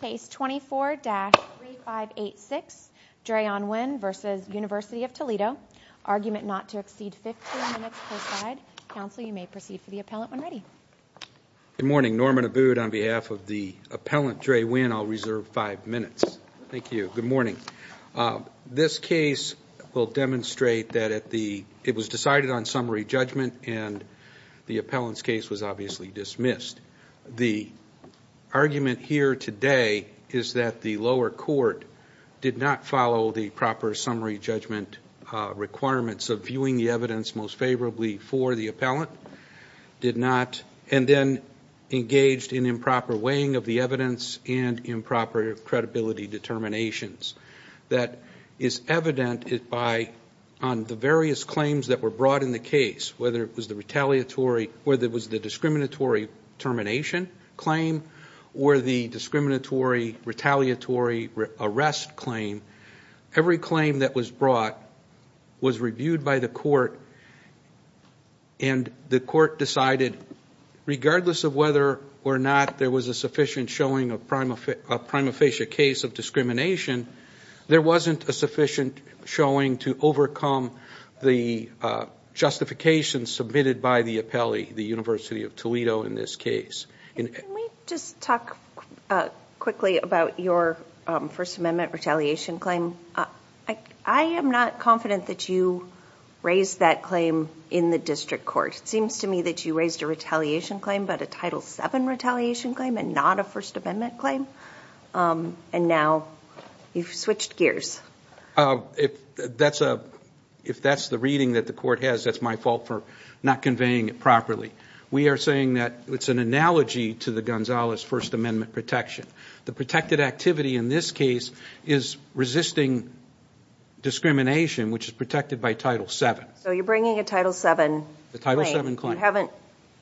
Case 24-3586, Dreyon Wynn v. University of Toledo, Argument Not to Exceed 15 Minutes Post-Slide. Counsel, you may proceed for the appellant when ready. Good morning, Norman Abood on behalf of the appellant, Drey Wynn. I'll reserve five minutes. Thank you. Good morning. This case will demonstrate that it was decided on summary judgment and the appellant's case was obviously dismissed. The argument here today is that the lower court did not follow the proper summary judgment requirements of viewing the evidence most favorably for the appellant, did not, and then engaged in improper weighing of the evidence and improper credibility determinations. That is evident on the various claims that were brought in the case, whether it was the discriminatory termination claim or the discriminatory retaliatory arrest claim. Every claim that was brought was reviewed by the court and the court decided regardless of whether or not there was a sufficient showing of prima facie case of discrimination, there wasn't a sufficient showing to overcome the justification submitted by the appellee, the University of Toledo in this case. Can we just talk quickly about your First Amendment retaliation claim? I am not confident that you raised that claim in the district court. It seems to me that you raised a retaliation claim, but a Title VII retaliation claim and not a First Amendment claim, and now you've switched gears. If that's the reading that the court has, that's my fault for not conveying it properly. We are saying that it's an analogy to the Gonzalez First Amendment protection. The protected activity in this case is resisting discrimination, which is protected by Title VII. So you're bringing a Title VII claim. A Title VII claim. You haven't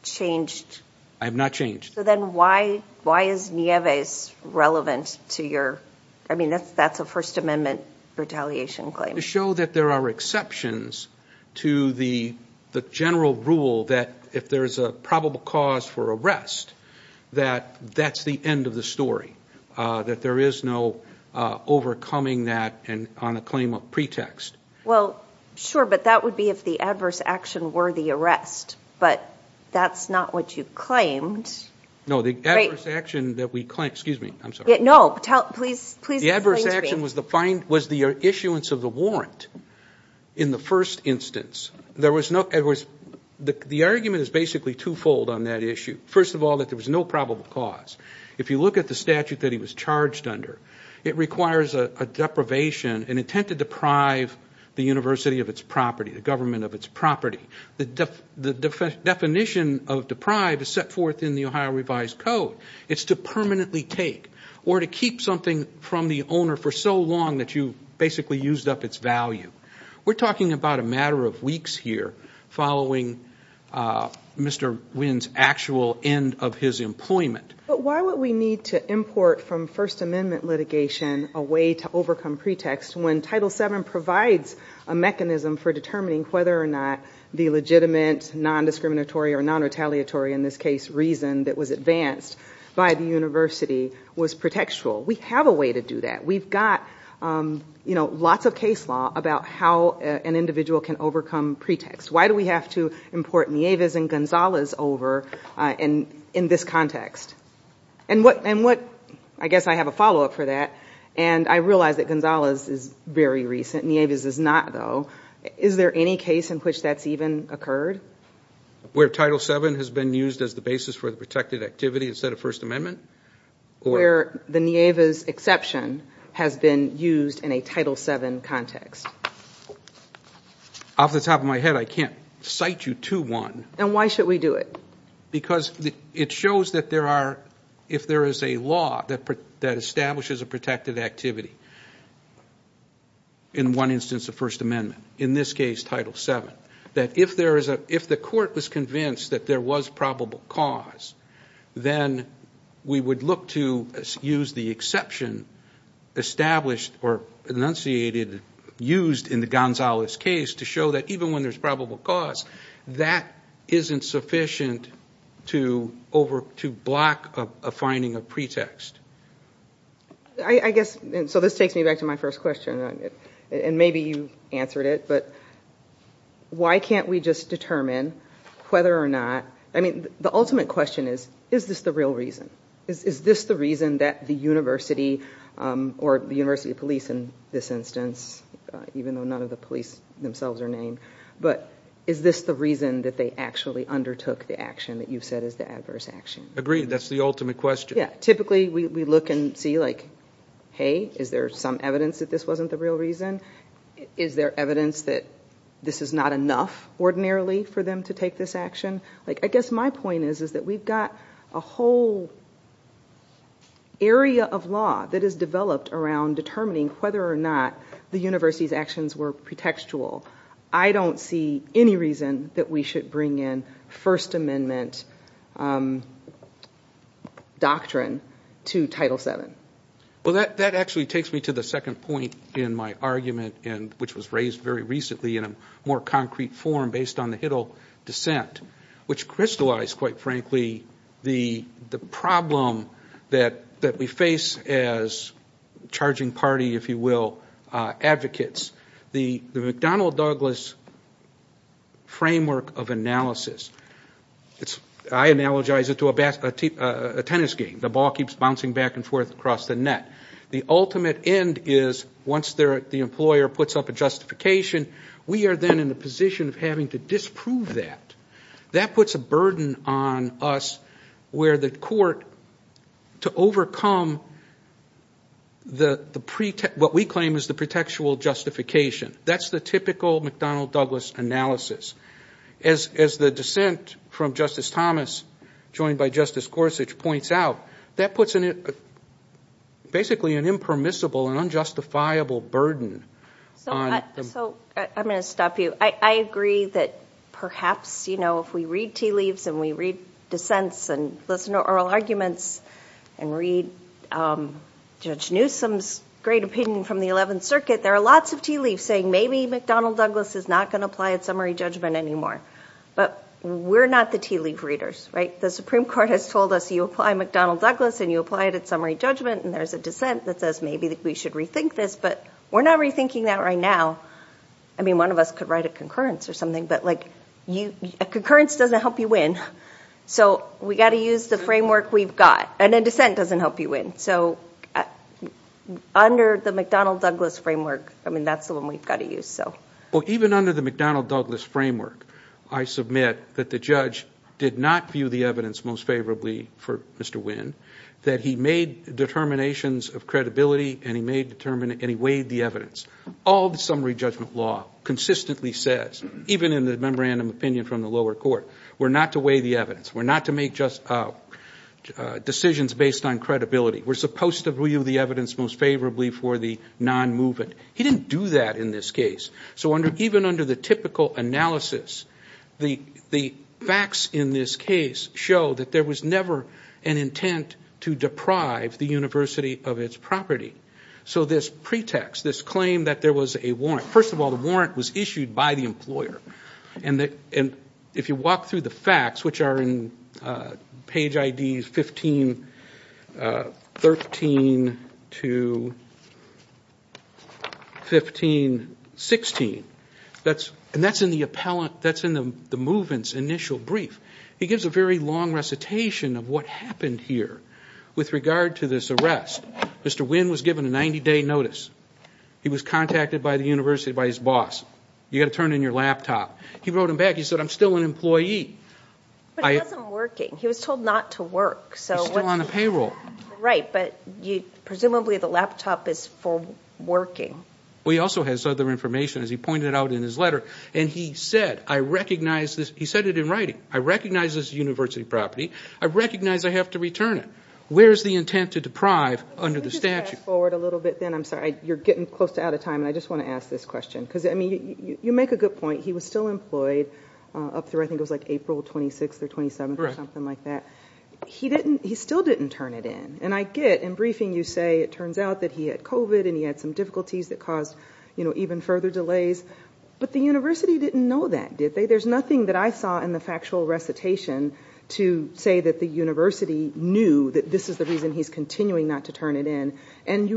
changed. I have not changed. So then why is Nieves relevant to your... I mean, that's a First Amendment retaliation claim. To show that there are exceptions to the general rule that if there's a probable cause for arrest, that that's the end of the story. That there is no overcoming that on a claim of pretext. Well, sure, but that would be if the adverse action were the arrest. But that's not what you claimed. No, the adverse action that we claimed... Excuse me, I'm sorry. No, please explain to me. The adverse action was the issuance of the warrant in the first instance. There was no... The argument is basically twofold on that issue. First of all, that there was no probable cause. If you look at the statute that he was charged under, it requires a deprivation, an intent to deprive the university of its property, the government of its property. The definition of deprive is set forth in the Ohio Revised Code. It's to permanently take or to keep something from the owner for so long that you basically used up its value. We're talking about a matter of weeks here following Mr. Wynn's actual end of his employment. But why would we need to import from First Amendment litigation a way to overcome pretext when Title VII provides a mechanism for determining whether or not the legitimate, non-discriminatory or non-retaliatory, in this case, reason that was advanced by the university was pretextual? We have a way to do that. We've got lots of case law about how an individual can overcome pretext. Why do we have to import Nieves and Gonzalez over in this context? I guess I have a follow-up for that. I realize that Gonzalez is very recent. Nieves is not, though. Is there any case in which that's even occurred? Where Title VII has been used as the basis for the protected activity instead of First Amendment? Where the Nieves exception has been used in a Title VII context? Off the top of my head, I can't cite you to one. Why should we do it? Because it shows that if there is a law that establishes a protected activity, in one instance a First Amendment, in this case Title VII, that if the court was convinced that there was probable cause, then we would look to use the exception established or enunciated, used in the Gonzalez case to show that even when there's probable cause, that isn't sufficient to block a finding of pretext. So this takes me back to my first question, and maybe you answered it, but why can't we just determine whether or not, I mean, the ultimate question is, is this the real reason? Is this the reason that the university, or the university police in this instance, even though none of the police themselves are named, but is this the reason that they actually undertook the action that you've said is the adverse action? Agreed, that's the ultimate question. Typically we look and see, hey, is there some evidence that this wasn't the real reason? Is there evidence that this is not enough, ordinarily, for them to take this action? I guess my point is that we've got a whole area of law that is developed around determining whether or not the university's actions were pretextual. I don't see any reason that we should bring in First Amendment doctrine to Title VII. Well, that actually takes me to the second point in my argument, which was raised very recently in a more concrete form based on the Hiddle dissent, which crystallized, quite frankly, the problem that we face as charging party, if you will, advocates. The McDonnell-Douglas framework of analysis, I analogize it to a tennis game. The ball keeps bouncing back and forth across the net. The ultimate end is once the employer puts up a justification, we are then in a position of having to disprove that. That puts a burden on us where the court, to overcome what we claim is the pretextual justification. That's the typical McDonnell-Douglas analysis. As the dissent from Justice Thomas, joined by Justice Gorsuch, points out, that puts basically an impermissible and unjustifiable burden. So I'm going to stop you. I agree that perhaps if we read tea leaves and we read dissents and listen to oral arguments and read Judge Newsom's great opinion from the 11th Circuit, there are lots of tea leaves saying maybe McDonnell-Douglas is not going to apply at summary judgment anymore. But we're not the tea leaf readers, right? The Supreme Court has told us you apply McDonnell-Douglas and you apply it at summary judgment, and there's a dissent that says maybe we should rethink this, but we're not rethinking that right now. I mean, one of us could write a concurrence or something, but a concurrence doesn't help you win. So we've got to use the framework we've got. And a dissent doesn't help you win. So under the McDonnell-Douglas framework, that's the one we've got to use. Even under the McDonnell-Douglas framework, I submit that the judge did not view the evidence most favorably for Mr. Wynn, that he made determinations of credibility and he weighed the evidence. All the summary judgment law consistently says, even in the memorandum opinion from the lower court, we're not to weigh the evidence, we're not to make decisions based on credibility, we're supposed to view the evidence most favorably for the non-movement. He didn't do that in this case. So even under the typical analysis, the facts in this case show that there was never an intent to deprive the university of its property. So this pretext, this claim that there was a warrant, first of all, the warrant was issued by the employer. And if you walk through the facts, which are in page IDs 1513 to 1516, and that's in the movement's initial brief, he gives a very long recitation of what happened here with regard to this arrest. Mr. Wynn was given a 90-day notice. He was contacted by the university by his boss. You've got to turn in your laptop. He wrote him back. He said, I'm still an employee. But he wasn't working. He was told not to work. He's still on the payroll. Right, but presumably the laptop is for working. Well, he also has other information, as he pointed out in his letter. And he said, I recognize this. He said it in writing. I recognize this is university property. I recognize I have to return it. Where is the intent to deprive under the statute? I'm sorry, you're getting close to out of time, and I just want to ask this question. Because, I mean, you make a good point. He was still employed up through I think it was like April 26th or 27th or something like that. He still didn't turn it in. And I get in briefing you say it turns out that he had COVID and he had some difficulties that caused even further delays. But the university didn't know that, did they? There's nothing that I saw in the factual recitation to say that the university knew that this is the reason he's continuing not to turn it in. And he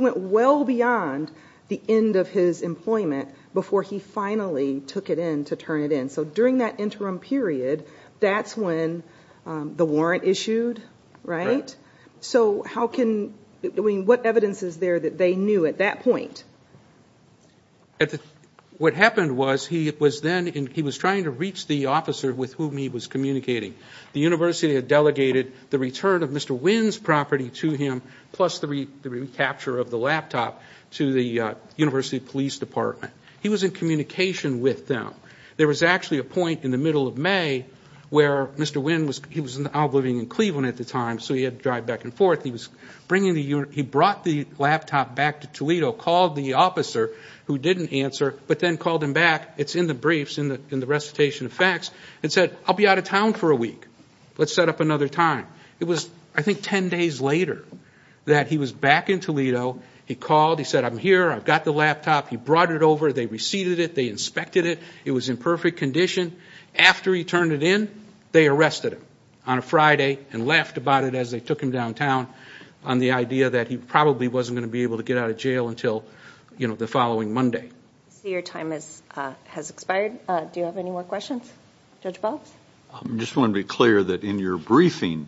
went well beyond the end of his employment before he finally took it in to turn it in. So during that interim period, that's when the warrant issued, right? So how can, I mean, what evidence is there that they knew at that point? What happened was he was then, he was trying to reach the officer with whom he was communicating. The university had delegated the return of Mr. Wynn's property to him plus the recapture of the laptop to the university police department. He was in communication with them. There was actually a point in the middle of May where Mr. Wynn was, he was now living in Cleveland at the time, so he had to drive back and forth. He was bringing the, he brought the laptop back to Toledo, called the officer who didn't answer, but then called him back. It's in the briefs, in the recitation of facts, and said, I'll be out of town for a week. Let's set up another time. It was, I think, 10 days later that he was back in Toledo. He called. He said, I'm here. I've got the laptop. He brought it over. They received it. They inspected it. It was in perfect condition. After he turned it in, they arrested him on a Friday and laughed about it as they took him downtown on the idea that he probably wasn't going to be able to get out of jail until, you know, the following Monday. I see your time has expired. Do you have any more questions? Judge Balz? I just want to be clear that in your briefing,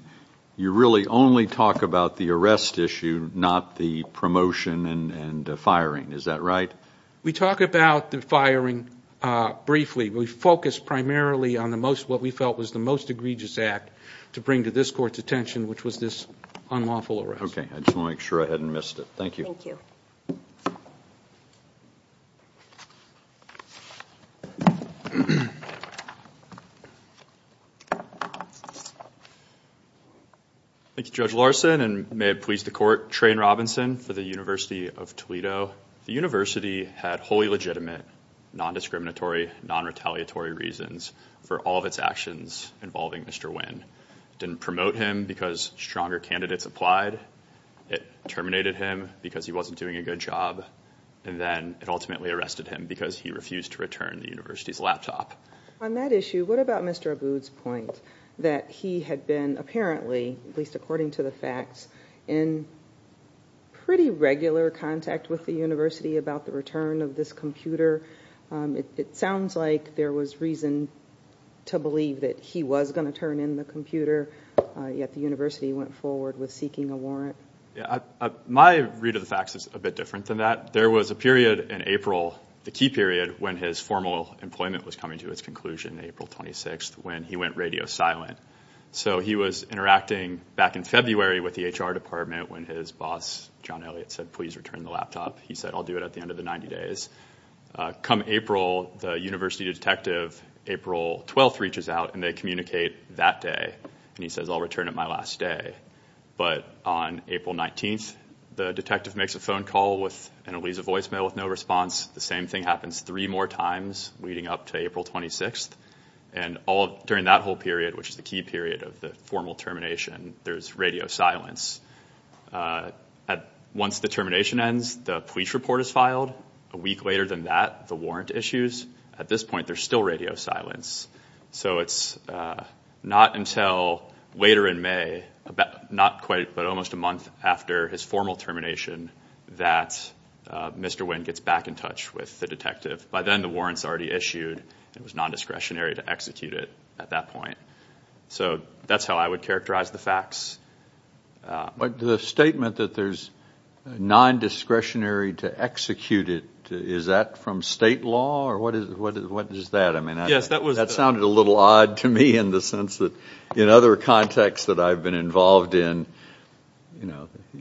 you really only talk about the arrest issue, not the promotion and firing. Is that right? We talk about the firing briefly. We focus primarily on what we felt was the most egregious act to bring to this Court's attention, which was this unlawful arrest. I just wanted to make sure I hadn't missed it. Thank you. Thank you, Judge Larson, and may it please the Court, Trane Robinson for the University of Toledo. The University had wholly legitimate, non-discriminatory, non-retaliatory reasons for all of its actions involving Mr. Wynn. It didn't promote him because stronger candidates applied. It terminated him because he wasn't doing a good job. And then it ultimately arrested him because he refused to return the University's laptop. On that issue, what about Mr. Abboud's point that he had been apparently, at least according to the facts, in pretty regular contact with the University about the return of this computer? It sounds like there was reason to believe that he was going to turn in the computer, yet the University went forward with seeking a warrant. My read of the facts is a bit different than that. There was a period in April, the key period, when his formal employment was coming to its conclusion, April 26th, when he went radio silent. So he was interacting back in February with the HR department when his boss, John Elliott, said, please return the laptop. He said, I'll do it at the end of the 90 days. Come April, the University detective, April 12th, reaches out and they communicate that day. And he says, I'll return it my last day. But on April 19th, the detective makes a phone call and it leaves a voicemail with no response. The same thing happens three more times leading up to April 26th. And during that whole period, which is the key period of the formal termination, there's radio silence. Once the termination ends, the police report is filed. A week later than that, the warrant issues. At this point, there's still radio silence. So it's not until later in May, not quite, but almost a month after his formal termination, that Mr. Winn gets back in touch with the detective. By then, the warrant's already issued. It was non-discretionary to execute it at that point. So that's how I would characterize the facts. The statement that there's non-discretionary to execute it, is that from state law or what is that? That sounded a little odd to me in the sense that in other contexts that I've been involved in.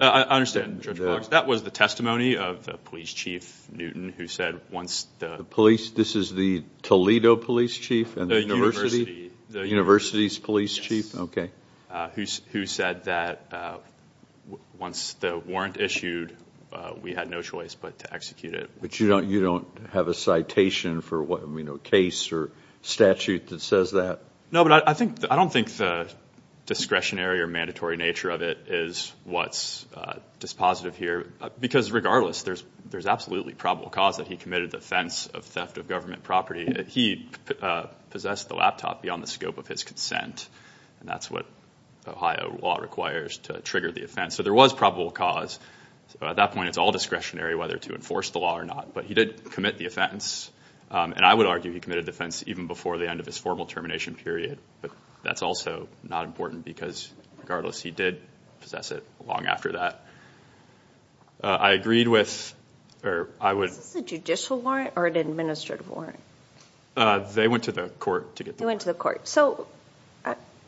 I understand, Judge Boggs. That was the testimony of the police chief, Newton, who said once the- The police, this is the Toledo police chief? The university. The university's police chief? Yes. Okay. Who said that once the warrant issued, we had no choice but to execute it. But you don't have a citation for a case or statute that says that? No, but I don't think the discretionary or mandatory nature of it is what's dispositive here. Because regardless, there's absolutely probable cause that he committed the offense of theft of government property. He possessed the laptop beyond the scope of his consent, and that's what Ohio law requires to trigger the offense. So there was probable cause. At that point, it's all discretionary whether to enforce the law or not. But he did commit the offense, and I would argue he committed the offense even before the end of his formal termination period. But that's also not important because regardless, he did possess it long after that. I agreed with- Is this a judicial warrant or an administrative warrant? They went to the court to get the warrant. They went to the court. So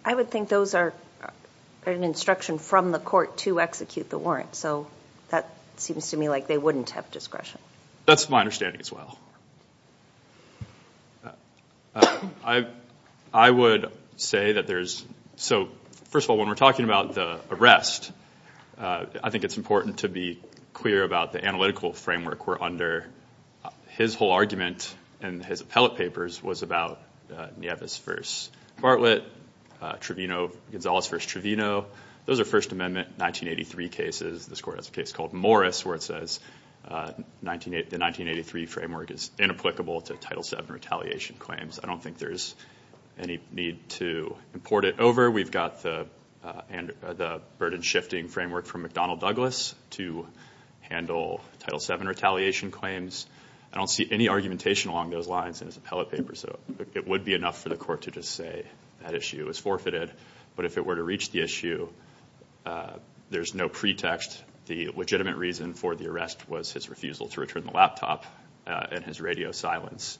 I would think those are an instruction from the court to execute the warrant. So that seems to me like they wouldn't have discretion. That's my understanding as well. I would say that there's- So first of all, when we're talking about the arrest, I think it's important to be clear about the analytical framework we're under. His whole argument in his appellate papers was about Nieves v. Bartlett, Gonzales v. Trevino. Those are First Amendment 1983 cases. This court has a case called Morris where it says the 1983 framework is inapplicable to Title VII retaliation claims. I don't think there's any need to import it over. We've got the burden-shifting framework from McDonnell Douglas to handle Title VII retaliation claims. I don't see any argumentation along those lines in his appellate papers. So it would be enough for the court to just say that issue is forfeited. But if it were to reach the issue, there's no pretext. The legitimate reason for the arrest was his refusal to return the laptop and his radio silence.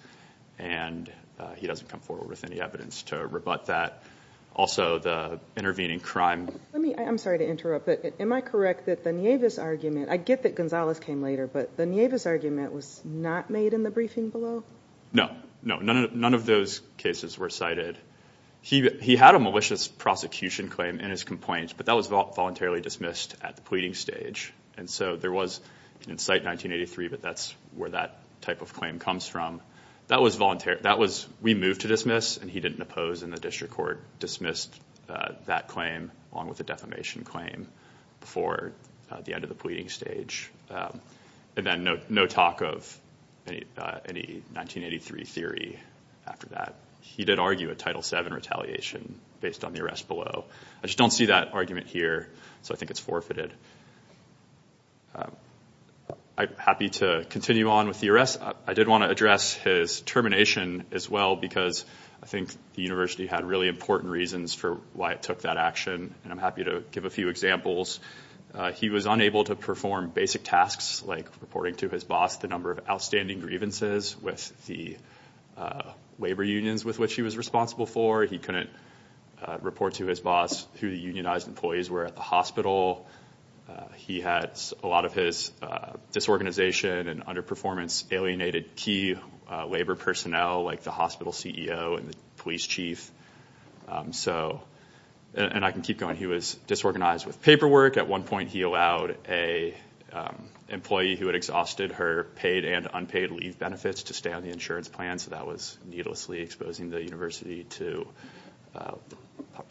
And he doesn't come forward with any evidence to rebut that. Also, the intervening crime. I'm sorry to interrupt, but am I correct that the Nieves argument, I get that Gonzales came later, but the Nieves argument was not made in the briefing below? No. None of those cases were cited. He had a malicious prosecution claim in his complaints, but that was voluntarily dismissed at the pleading stage. And so there was an incite 1983, but that's where that type of claim comes from. We moved to dismiss, and he didn't oppose, and the district court dismissed that claim, along with the defamation claim, before the end of the pleading stage. And then no talk of any 1983 theory after that. He did argue a Title VII retaliation based on the arrest below. I just don't see that argument here, so I think it's forfeited. I'm happy to continue on with the arrest. I did want to address his termination as well, because I think the university had really important reasons for why it took that action, and I'm happy to give a few examples. He was unable to perform basic tasks like reporting to his boss the number of outstanding grievances with the labor unions with which he was responsible for. He couldn't report to his boss who the unionized employees were at the hospital. He had a lot of his disorganization and underperformance alienated key labor personnel like the hospital CEO and the police chief. And I can keep going. He was disorganized with paperwork. At one point he allowed an employee who had exhausted her paid and unpaid leave benefits to stay on the insurance plan, so that was needlessly exposing the university to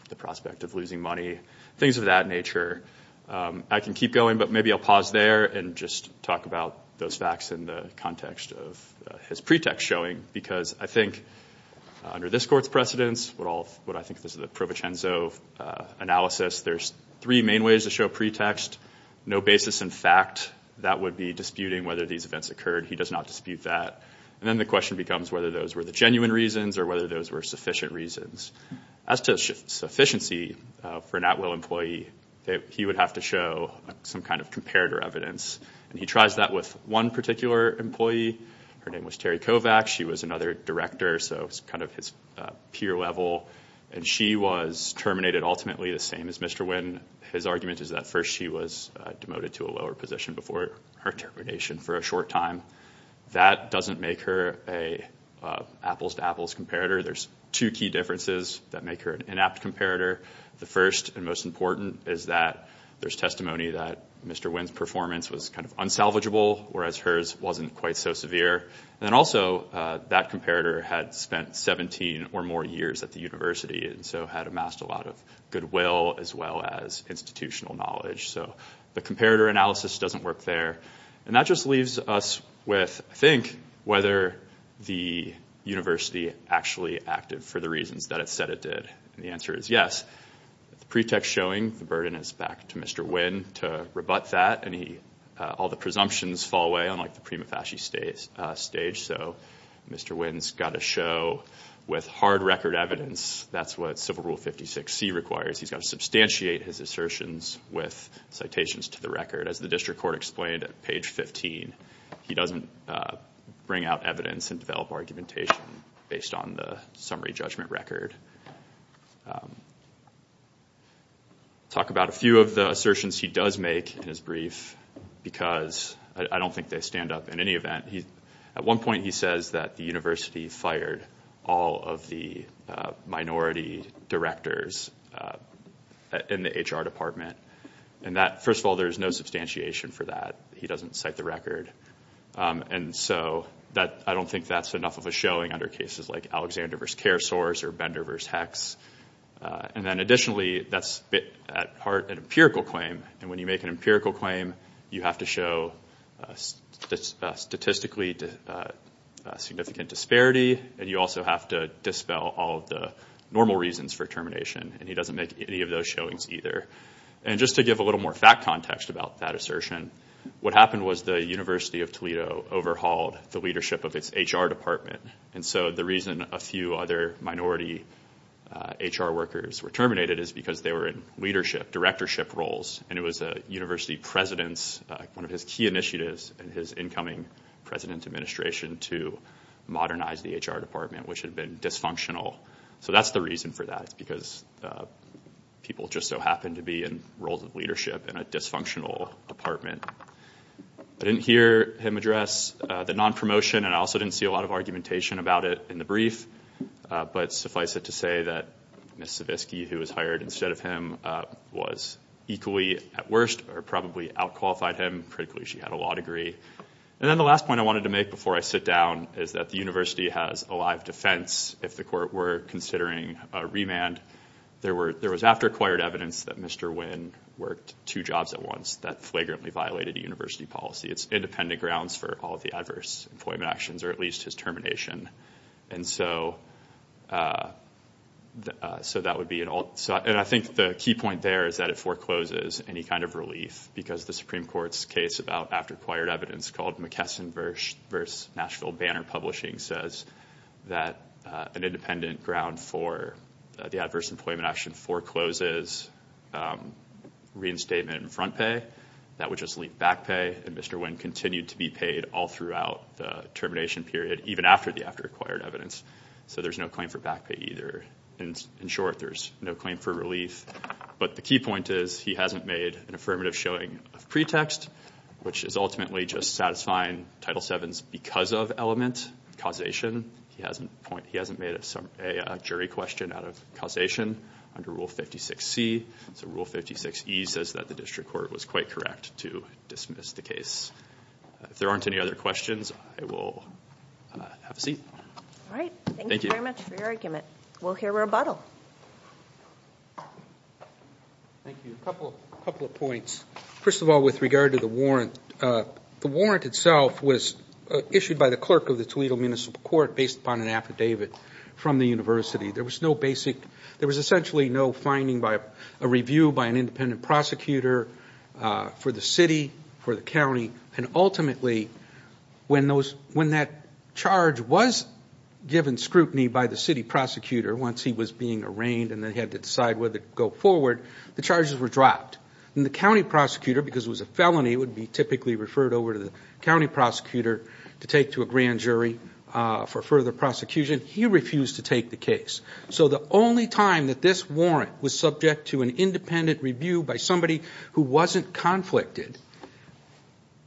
the prospect of losing money, things of that nature. I can keep going, but maybe I'll pause there and just talk about those facts in the context of his pretext showing, because I think under this court's precedence, what I think is the Provincenzo analysis, there's three main ways to show pretext. No basis in fact that would be disputing whether these events occurred. He does not dispute that. And then the question becomes whether those were the genuine reasons or whether those were sufficient reasons. As to sufficiency for an at-will employee, he would have to show some kind of comparator evidence, and he tries that with one particular employee. Her name was Terry Kovacs. She was another director, so it was kind of his peer level, and she was terminated ultimately the same as Mr. Winn. His argument is that first she was demoted to a lower position before her termination for a short time. That doesn't make her an apples-to-apples comparator. There's two key differences that make her an inapt comparator. The first and most important is that there's testimony that Mr. Winn's performance was kind of unsalvageable, whereas hers wasn't quite so severe. And then also that comparator had spent 17 or more years at the university and so had amassed a lot of goodwill as well as institutional knowledge. So the comparator analysis doesn't work there. And that just leaves us with, I think, whether the university actually acted for the reasons that it said it did. And the answer is yes. The pretext showing the burden is back to Mr. Winn to rebut that, and all the presumptions fall away, unlike the prima facie stage. So Mr. Winn's got to show, with hard record evidence, that's what Civil Rule 56C requires. He's got to substantiate his assertions with citations to the record. As the district court explained at page 15, he doesn't bring out evidence and develop argumentation based on the summary judgment record. I'll talk about a few of the assertions he does make in his brief because I don't think they stand up in any event. At one point he says that the university fired all of the minority directors in the HR department. First of all, there is no substantiation for that. He doesn't cite the record. And so I don't think that's enough of a showing under cases like Alexander v. CareSource or Bender v. HECS. And then additionally, that's at heart an empirical claim. And when you make an empirical claim, you have to show statistically significant disparity, and you also have to dispel all of the normal reasons for termination. And he doesn't make any of those showings either. And just to give a little more fact context about that assertion, what happened was the University of Toledo overhauled the leadership of its HR department. And so the reason a few other minority HR workers were terminated is because they were in leadership, directorship roles. And it was a university president's, one of his key initiatives in his incoming president's administration, to modernize the HR department, which had been dysfunctional. So that's the reason for that. It's because people just so happen to be in roles of leadership in a dysfunctional department. I didn't hear him address the non-promotion, and I also didn't see a lot of argumentation about it in the brief. But suffice it to say that Ms. Savitsky, who was hired instead of him, was equally at worst or probably outqualified him. Critically, she had a law degree. And then the last point I wanted to make before I sit down is that the university has a live defense if the court were considering a remand. There was after-acquired evidence that Mr. Wynn worked two jobs at once. That flagrantly violated university policy. It's independent grounds for all of the adverse employment actions, or at least his termination. And so that would be an alt. And I think the key point there is that it forecloses any kind of relief because the Supreme Court's case about after-acquired evidence called McKesson v. Nashville Banner Publishing says that an independent ground for the adverse employment action forecloses reinstatement and front pay. That would just leave back pay, and Mr. Wynn continued to be paid all throughout the termination period, even after the after-acquired evidence. So there's no claim for back pay either. In short, there's no claim for relief. But the key point is he hasn't made an affirmative showing of pretext, which is ultimately just satisfying Title VII's because of element, causation. He hasn't made a jury question out of causation under Rule 56C. So Rule 56E says that the district court was quite correct to dismiss the case. If there aren't any other questions, I will have a seat. All right. Thank you very much for your argument. We'll hear rebuttal. Thank you. A couple of points. First of all, with regard to the warrant, the warrant itself was issued by the clerk of the Toledo Municipal Court based upon an affidavit from the university. There was essentially no finding by a review by an independent prosecutor for the city, for the county, and ultimately when that charge was given scrutiny by the city prosecutor once he was being arraigned and they had to decide whether to go forward, the charges were dropped. And the county prosecutor, because it was a felony, it would be typically referred over to the county prosecutor to take to a grand jury for further prosecution. He refused to take the case. So the only time that this warrant was subject to an independent review by somebody who wasn't conflicted,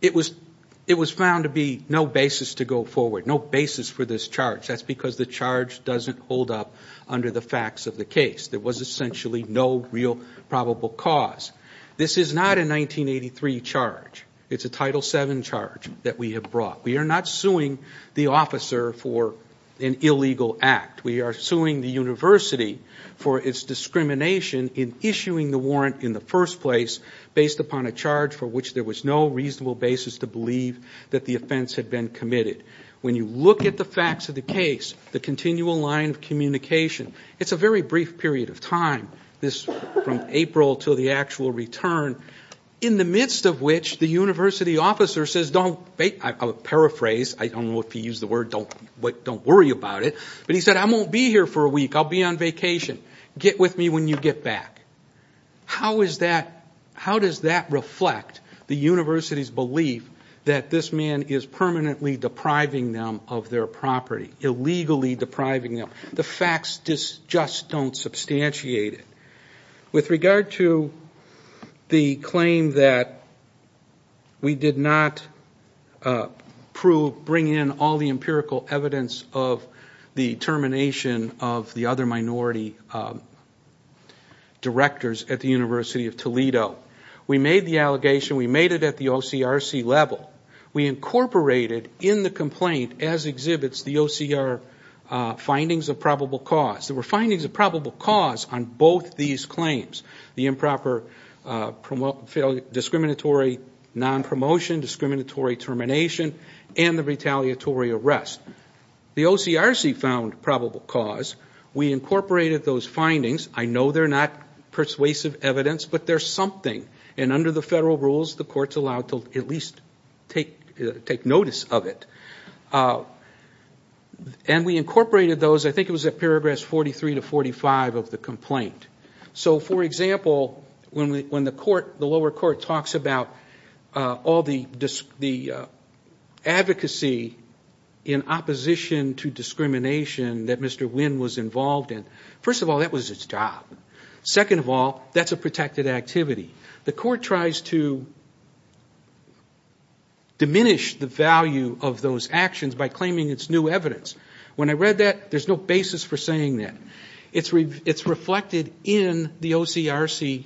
it was found to be no basis to go forward, no basis for this charge. That's because the charge doesn't hold up under the facts of the case. There was essentially no real probable cause. This is not a 1983 charge. It's a Title VII charge that we have brought. We are not suing the officer for an illegal act. We are suing the university for its discrimination in issuing the warrant in the first place based upon a charge for which there was no reasonable basis to believe that the offense had been committed. When you look at the facts of the case, the continual line of communication, it's a very brief period of time, from April to the actual return, in the midst of which the university officer says, I'll paraphrase, I don't know if he used the word don't worry about it, but he said, I won't be here for a week, I'll be on vacation. Get with me when you get back. How does that reflect the university's belief that this man is permanently depriving them of their property, illegally depriving them? The facts just don't substantiate it. With regard to the claim that we did not prove, bring in all the empirical evidence of the termination of the other minority directors at the University of Toledo, we made the allegation, we made it at the OCRC level. We incorporated in the complaint, as exhibits, the OCR findings of probable cause. There were findings of probable cause on both these claims, the improper discriminatory non-promotion, discriminatory termination, and the retaliatory arrest. The OCRC found probable cause. We incorporated those findings. I know they're not persuasive evidence, but they're something. Under the federal rules, the courts are allowed to at least take notice of it. We incorporated those, I think it was at paragraphs 43 to 45 of the complaint. For example, when the lower court talks about all the advocacy in opposition to discrimination that Mr. Wynn was involved in, first of all, that was his job. Second of all, that's a protected activity. The court tries to diminish the value of those actions by claiming it's new evidence. When I read that, there's no basis for saying that. It's reflected in the OCRC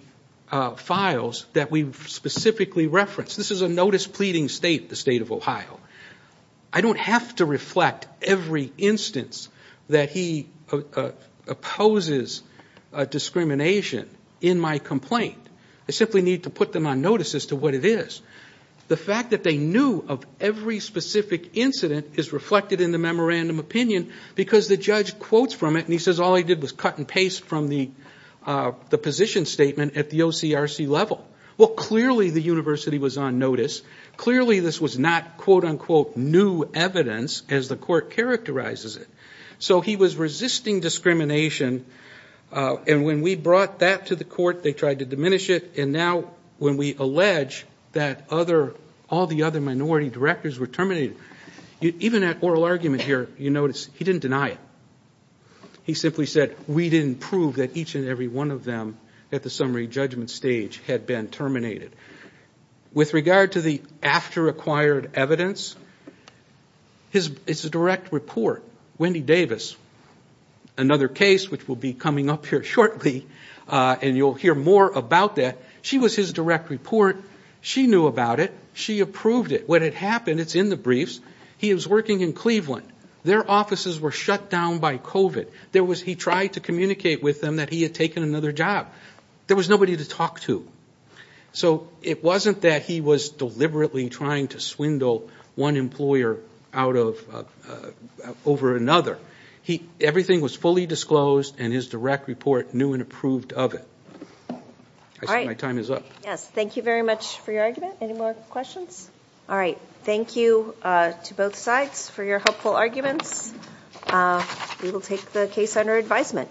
files that we've specifically referenced. This is a notice pleading the state of Ohio. I don't have to reflect every instance that he opposes discrimination in my complaint. I simply need to put them on notice as to what it is. The fact that they knew of every specific incident is reflected in the memorandum opinion because the judge quotes from it, and he says all he did was cut and paste from the position statement at the OCRC level. Well, clearly the university was on notice. Clearly this was not quote-unquote new evidence as the court characterizes it. So he was resisting discrimination, and when we brought that to the court, they tried to diminish it, and now when we allege that all the other minority directors were terminated, even that oral argument here, you notice he didn't deny it. He simply said we didn't prove that each and every one of them at the summary judgment stage had been terminated. With regard to the after-acquired evidence, it's a direct report. Wendy Davis, another case which will be coming up here shortly, and you'll hear more about that. She was his direct report. She knew about it. She approved it. What had happened, it's in the briefs, he was working in Cleveland. Their offices were shut down by COVID. He tried to communicate with them that he had taken another job. There was nobody to talk to. So it wasn't that he was deliberately trying to swindle one employer over another. Everything was fully disclosed, and his direct report knew and approved of it. I see my time is up. Yes. Thank you very much for your argument. Any more questions? All right. Thank you to both sides for your helpful arguments. We will take the case under advisement.